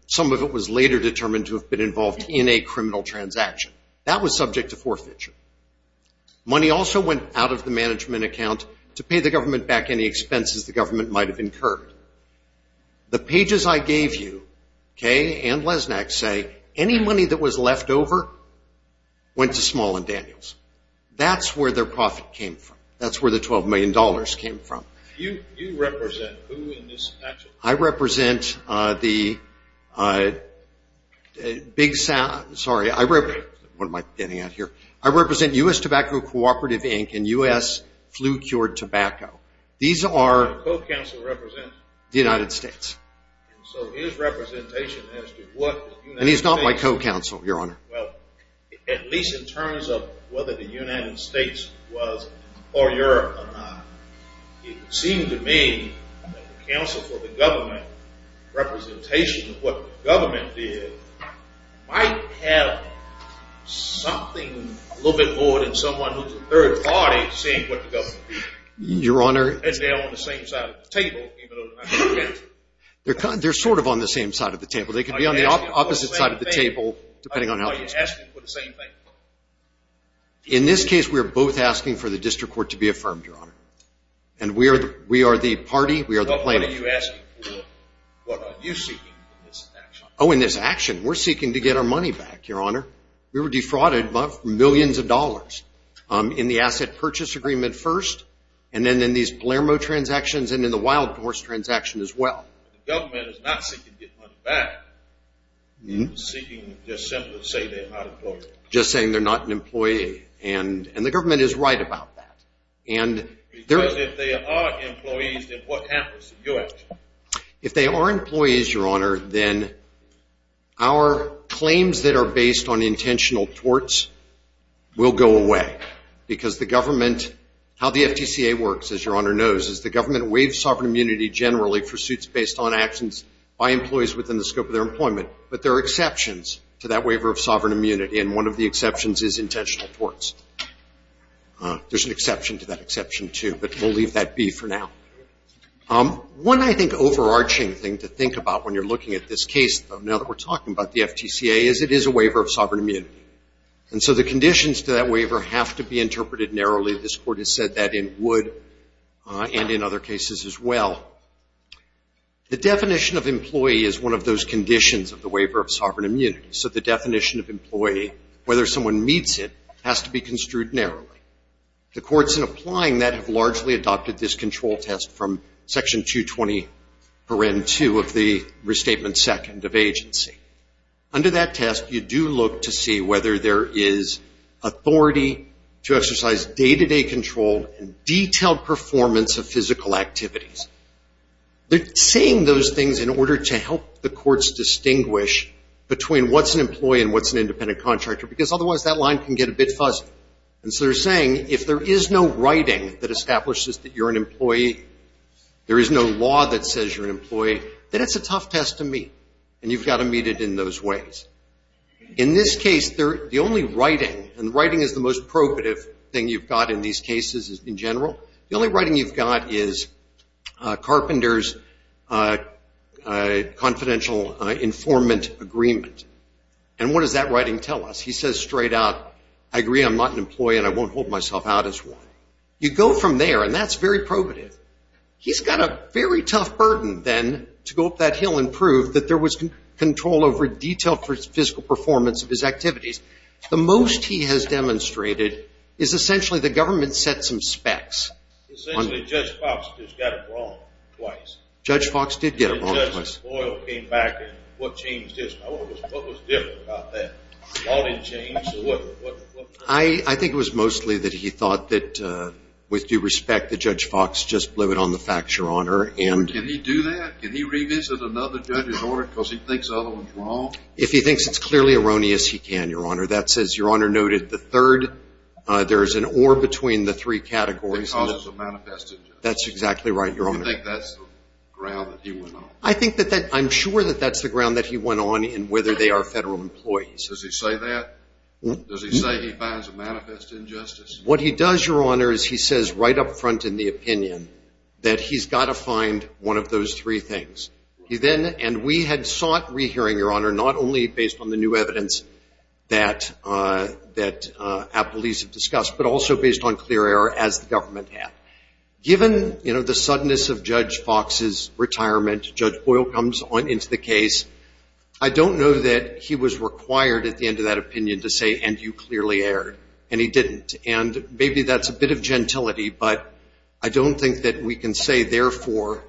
some of it was later determined to have been involved in a criminal transaction. That was subject to forfeiture. Money also went out of the management account to pay the government back any expenses the government might have incurred. The pages I gave you, K and Lesnak, say any money that was left over went to Small and Daniels. That's where their profit came from. That's where the $12 million came from. You represent who in this statute? I represent the U.S. Tobacco Cooperative, Inc. and U.S. Flu Cured Tobacco. The co-counsel represents the United States. So his representation as to what the United States... And he's not my co-counsel, Your Honor. At least in terms of whether the United States was or Europe or not. It would seem to me that the counsel for the government, representation of what the government did, might have something a little bit more than someone who's a third party saying what the government did. Your Honor... And they're on the same side of the table, even though they're not co-counsel. They're sort of on the same side of the table. They could be on the opposite side of the table, depending on how... Are you asking for the same thing? In this case, we're both asking for the district court to be affirmed, Your Honor. And we are the party, we are the plaintiff. What are you asking for? What are you seeking in this action? Oh, in this action, we're seeking to get our money back, Your Honor. We were defrauded of millions of dollars in the asset purchase agreement first, and then in these Blairmo transactions and in the Wild Horse transaction as well. The government is not seeking to get money back. Seeking just simply to say they're not employees. Just saying they're not an employee, and the government is right about that. Because if they are employees, then what happens in your action? If they are employees, Your Honor, then our claims that are based on intentional torts will go away. Because the government, how the FTCA works, as Your Honor knows, is the government waives sovereign immunity generally for suits based on actions by employees within the scope of their employment. But there are exceptions to that waiver of sovereign immunity, and one of the exceptions is intentional torts. There's an exception to that exception, too, but we'll leave that be for now. One, I think, overarching thing to think about when you're looking at this case, though, now that we're talking about the FTCA, is it is a waiver of sovereign immunity. And so the conditions to that waiver have to be interpreted narrowly. This Court has said that in Wood and in other cases as well. The definition of employee is one of those conditions of the waiver of sovereign immunity. So the definition of employee, whether someone meets it, has to be construed narrowly. The courts in applying that have largely adopted this control test from Section 220.2 of the Restatement Second of Agency. Under that test, you do look to see whether there is authority to exercise day-to-day control and detailed performance of physical activities. They're saying those things in order to help the courts distinguish between what's an employee and what's an independent contractor, because otherwise that line can get a bit fuzzy. And so they're saying if there is no writing that establishes that you're an employee, there is no law that says you're an employee, then it's a tough test to meet, and you've got to meet it in those ways. In this case, the only writing, and writing is the most probative thing you've got in these cases in general, the only writing you've got is Carpenter's confidential informant agreement. And what does that writing tell us? He says straight out, I agree I'm not an employee and I won't hold myself out as one. You go from there, and that's very probative. He's got a very tough burden, then, to go up that hill and prove that there was control over detailed physical performance of his activities. The most he has demonstrated is essentially the government set some specs. Essentially Judge Fox just got it wrong twice. Judge Fox did get it wrong twice. Judge Boyle came back, and what changed his mind? What was different about that? The law didn't change, or what? I think it was mostly that he thought that, with due respect, that Judge Fox just blew it on the facts, Your Honor. Can he do that? Can he revisit another judge's order because he thinks the other one's wrong? If he thinks it's clearly erroneous, he can, Your Honor. That's, as Your Honor noted, the third. There is an or between the three categories. The causes are manifested, Judge. That's exactly right, Your Honor. Do you think that's the ground that he went on? I'm sure that that's the ground that he went on in whether they are federal employees. Does he say that? Does he say he finds a manifest injustice? What he does, Your Honor, is he says right up front in the opinion that he's got to find one of those three things. And we had sought rehearing, Your Honor, not only based on the new evidence that appellees have discussed, but also based on clear error as the government had. Given the suddenness of Judge Fox's retirement, Judge Boyle comes into the case, I don't know that he was required at the end of that opinion to say, and you clearly erred. And he didn't. And maybe that's a bit of gentility, but I don't think that we can say, therefore,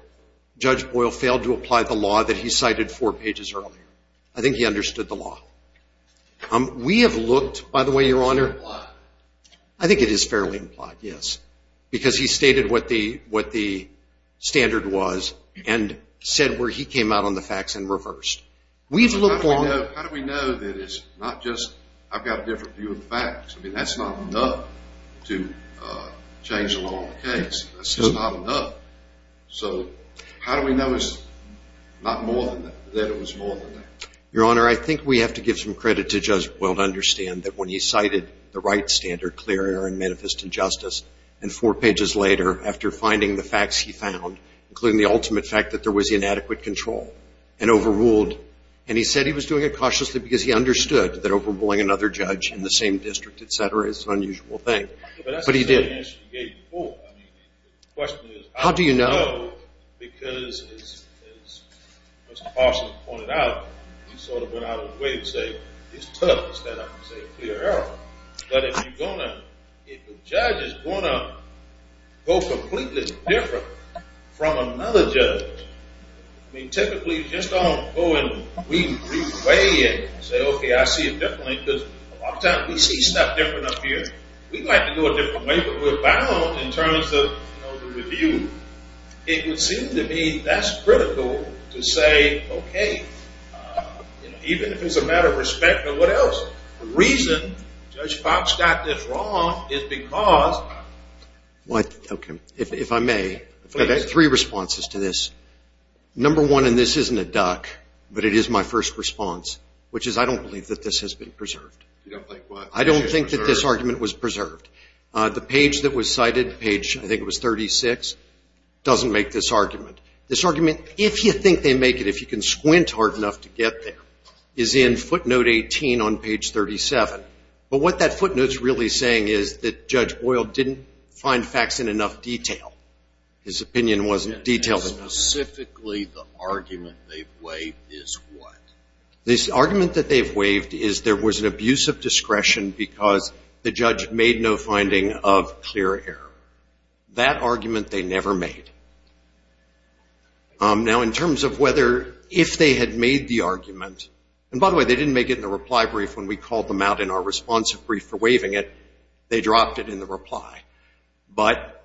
Judge Boyle failed to apply the law that he cited four pages earlier. I think he understood the law. We have looked, by the way, Your Honor, I think it is fairly implied, yes, because he stated what the standard was and said where he came out on the facts and reversed. How do we know that it's not just I've got a different view of the facts? I mean, that's not enough to change the law on the case. That's just not enough. So how do we know it's not more than that, that it was more than that? Your Honor, I think we have to give some credit to Judge Boyle to understand that when he cited the right standard, clear error and manifest injustice, and four pages later, after finding the facts he found, including the ultimate fact that there was inadequate control, and overruled, and he said he was doing it cautiously because he understood that overruling another judge in the same district, et cetera, is an unusual thing. But he did. But that's not the answer he gave you before. I mean, the question is how do you know because, as Mr. Parsons pointed out, he sort of went out of his way to say, it's tough to stand up and say clear error. But if you're going to, if a judge is going to go completely different from another judge, I mean, typically just on going the reasonable way and say, okay, I see it differently, because a lot of times we see stuff different up here. We'd like to go a different way, but we're bound in terms of the review. It would seem to me that's critical to say, okay, even if it's a matter of respect or what else, the reason Judge Fox got this wrong is because. What? Okay. If I may, I've got three responses to this. Number one, and this isn't a duck, but it is my first response, which is I don't believe that this has been preserved. You don't think what? I don't think that this argument was preserved. The page that was cited, page, I think it was 36, doesn't make this argument. This argument, if you think they make it, if you can squint hard enough to get there, is in footnote 18 on page 37. But what that footnote's really saying is that Judge Boyle didn't find facts in enough detail. His opinion wasn't detailed enough. And specifically the argument they've waived is what? This argument that they've waived is there was an abuse of discretion because the judge made no finding of clear error. That argument they never made. Now, in terms of whether, if they had made the argument, and by the way, they didn't make it in the reply brief when we called them out in our responsive brief for waiving it. They dropped it in the reply. But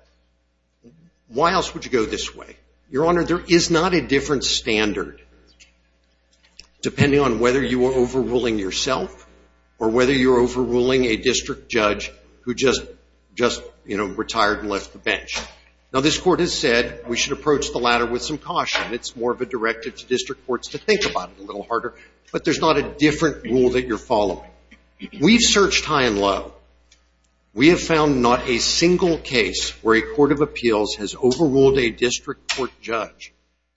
why else would you go this way? Your Honor, there is not a different standard, depending on whether you are overruling yourself or whether you're overruling a district judge who just retired and left the bench. Now, this Court has said we should approach the latter with some caution. It's more of a directive to district courts to think about it a little harder. But there's not a different rule that you're following. We've searched high and low. We have found not a single case where a court of appeals has overruled a district court judge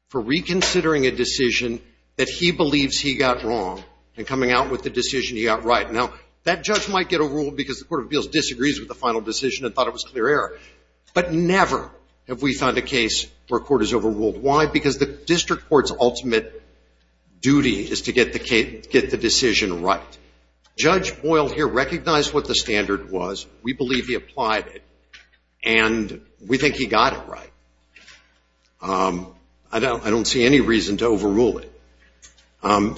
for reconsidering a decision that he believes he got wrong and coming out with the decision he got right. Now, that judge might get a rule because the court of appeals disagrees with the final decision and thought it was clear error. But never have we found a case where a court has overruled. Why? Because the district court's ultimate duty is to get the decision right. Judge Boyle here recognized what the standard was. We believe he applied it, and we think he got it right. I don't see any reason to overrule it.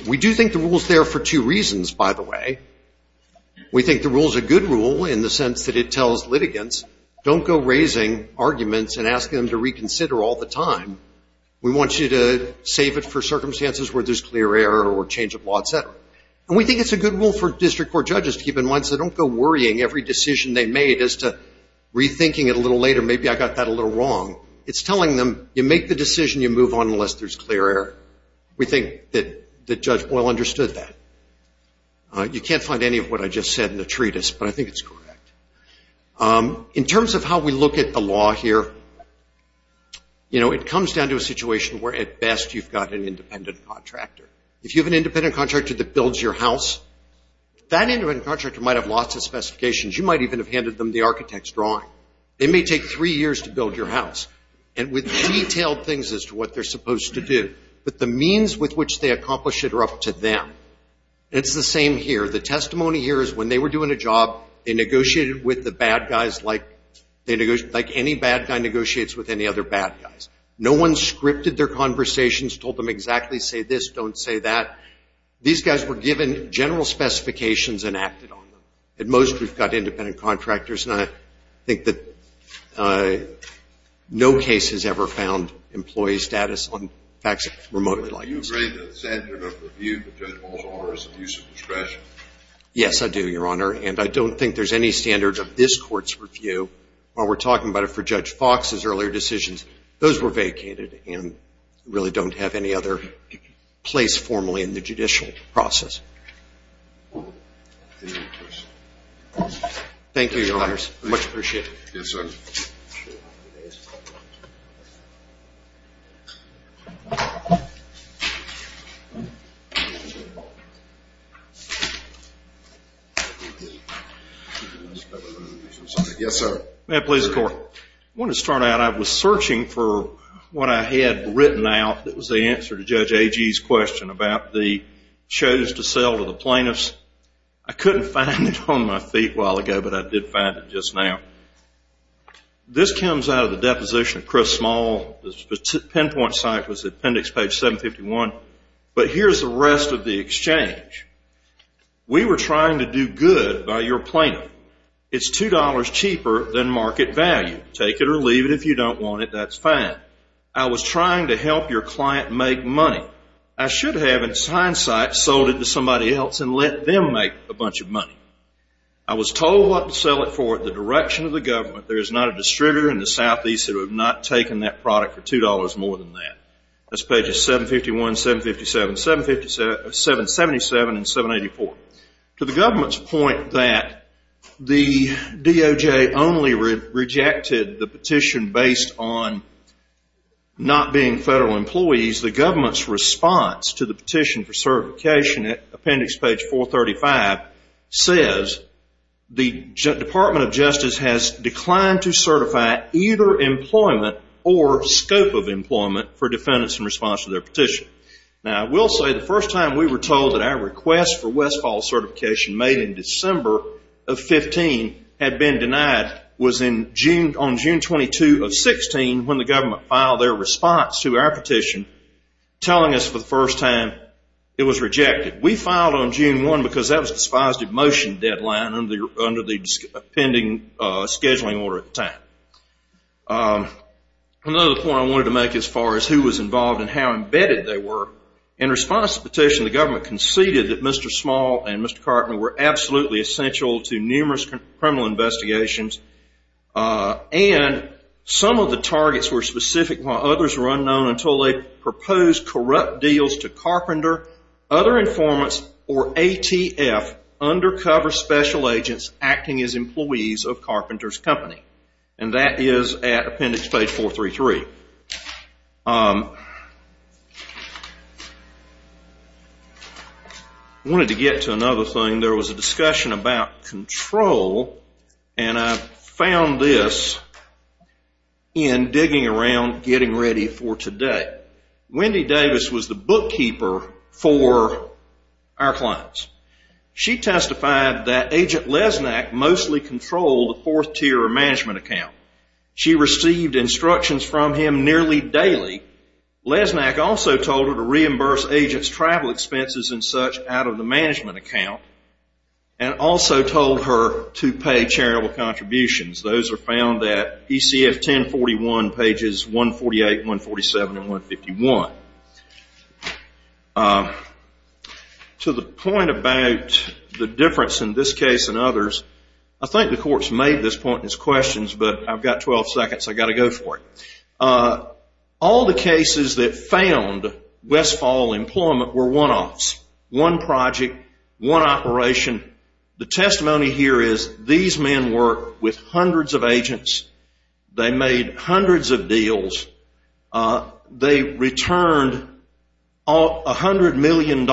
We do think the rule's there for two reasons, by the way. We think the rule's a good rule in the sense that it tells litigants, don't go raising arguments and asking them to reconsider all the time. We want you to save it for circumstances where there's clear error or change of law, et cetera. And we think it's a good rule for district court judges to keep in mind because they don't go worrying every decision they made as to rethinking it a little later, maybe I got that a little wrong. It's telling them, you make the decision, you move on unless there's clear error. We think that Judge Boyle understood that. You can't find any of what I just said in the treatise, but I think it's correct. In terms of how we look at the law here, you know, it comes down to a situation where at best you've got an independent contractor. If you have an independent contractor that builds your house, that independent contractor might have lots of specifications. You might even have handed them the architect's drawing. It may take three years to build your house, and with detailed things as to what they're supposed to do. But the means with which they accomplish it are up to them. And it's the same here. The testimony here is when they were doing a job, they negotiated with the bad guys like any bad guy negotiates with any other bad guys. No one scripted their conversations, told them exactly say this, don't say that. These guys were given general specifications and acted on them. At most, we've got independent contractors, and I think that no case has ever found employee status on facts remotely like this. Do you agree that the standard of review for Judge Boyle's order is the use of discretion? Yes, I do, Your Honor. And I don't think there's any standard of this Court's review. While we're talking about it for Judge Fox's earlier decisions, those were vacated and really don't have any other place formally in the judicial process. Thank you, Your Honors. Much appreciated. Yes, sir. Yes, sir. I want to start out. I was searching for what I had written out that was the answer to Judge Agee's question about the shows to sell to the plaintiffs. I couldn't find it on my feet a while ago, but I did find it just now. This comes out of the deposition of Chris Small. The pinpoint site was appendix page 751. But here's the rest of the exchange. We were trying to do good by your plaintiff. It's $2 cheaper than market value. Take it or leave it. If you don't want it, that's fine. I was trying to help your client make money. I should have, in hindsight, sold it to somebody else and let them make a bunch of money. I was told what to sell it for at the direction of the government. There is not a distributor in the southeast who have not taken that product for $2 more than that. That's pages 751, 757, 777, and 784. To the government's point that the DOJ only rejected the petition based on not being federal employees, the government's response to the petition for certification at appendix page 435 says the Department of Justice has declined to certify either employment or scope of employment for defendants in response to their petition. Now, I will say the first time we were told that our request for West Falls certification made in December of 2015 had been denied was on June 22 of 2016 when the government filed their response to our petition telling us for the first time it was rejected. We filed on June 1 because that was a despised in motion deadline under the pending scheduling order at the time. Another point I wanted to make as far as who was involved and how embedded they were, in response to the petition the government conceded that Mr. Small and Mr. Carpenter were absolutely essential to numerous criminal investigations and some of the targets were specific while others were unknown until they proposed corrupt deals to Carpenter, other informants, or ATF, undercover special agents acting as employees of Carpenter's company. And that is at appendix page 433. I wanted to get to another thing. There was a discussion about control and I found this in digging around getting ready for today. Wendy Davis was the bookkeeper for our clients. She testified that Agent Lesnack mostly controlled the fourth tier management account. She received instructions from him nearly daily. Lesnack also told her to reimburse agents' travel expenses and such out of the management account and also told her to pay charitable contributions. Those are found at ECF 1041 pages 148, 147, and 151. To the point about the difference in this case and others, I think the court's made this point in its questions, but I've got 12 seconds. I've got to go for it. All the cases that found Westfall employment were one-offs, one project, one operation. The testimony here is these men worked with hundreds of agents. They made hundreds of deals. They returned $100 million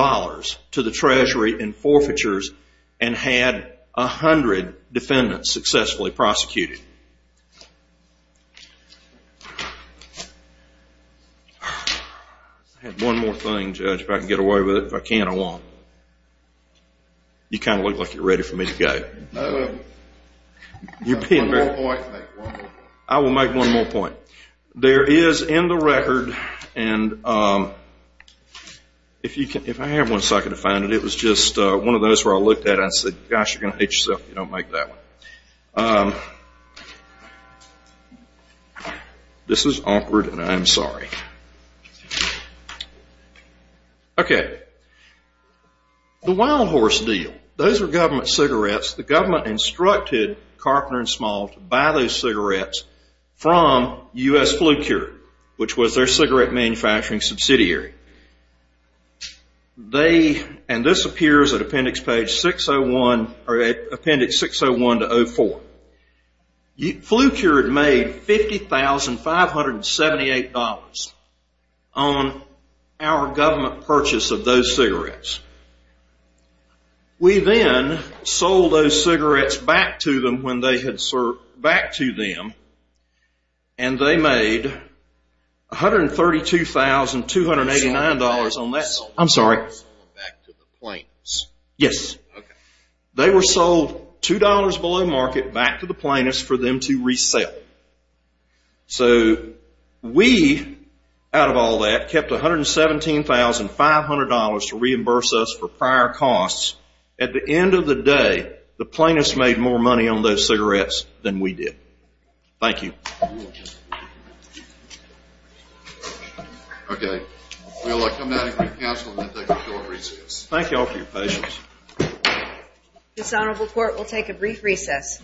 to the treasury in forfeitures and had 100 defendants successfully prosecuted. I have one more thing, Judge, if I can get away with it. If I can't, I won't. You kind of look like you're ready for me to go. I will make one more point. There is in the record, and if I have one second to find it, it was just one of those where I looked at it and said, gosh, you're going to hate yourself if you don't make that one. This is awkward, and I am sorry. Okay. The wild horse deal. Those are government cigarettes. The government instructed Carpenter & Small to buy those cigarettes from U.S. Flu Cure, which was their cigarette manufacturing subsidiary. This appears at appendix 601 to 04. Flu Cure had made $50,578 on our government purchase of those cigarettes. We then sold those cigarettes back to them when they had served, back to them, and they made $132,289 on that. I'm sorry. Back to the plaintiffs. Yes. Okay. They were sold $2 below market back to the plaintiffs for them to resell. So we, out of all that, kept $117,500 to reimburse us for prior costs. At the end of the day, the plaintiffs made more money on those cigarettes than we did. Thank you. Okay. We will come back to the council and then take a short recess. Thank you all for your patience. This honorable court will take a brief recess.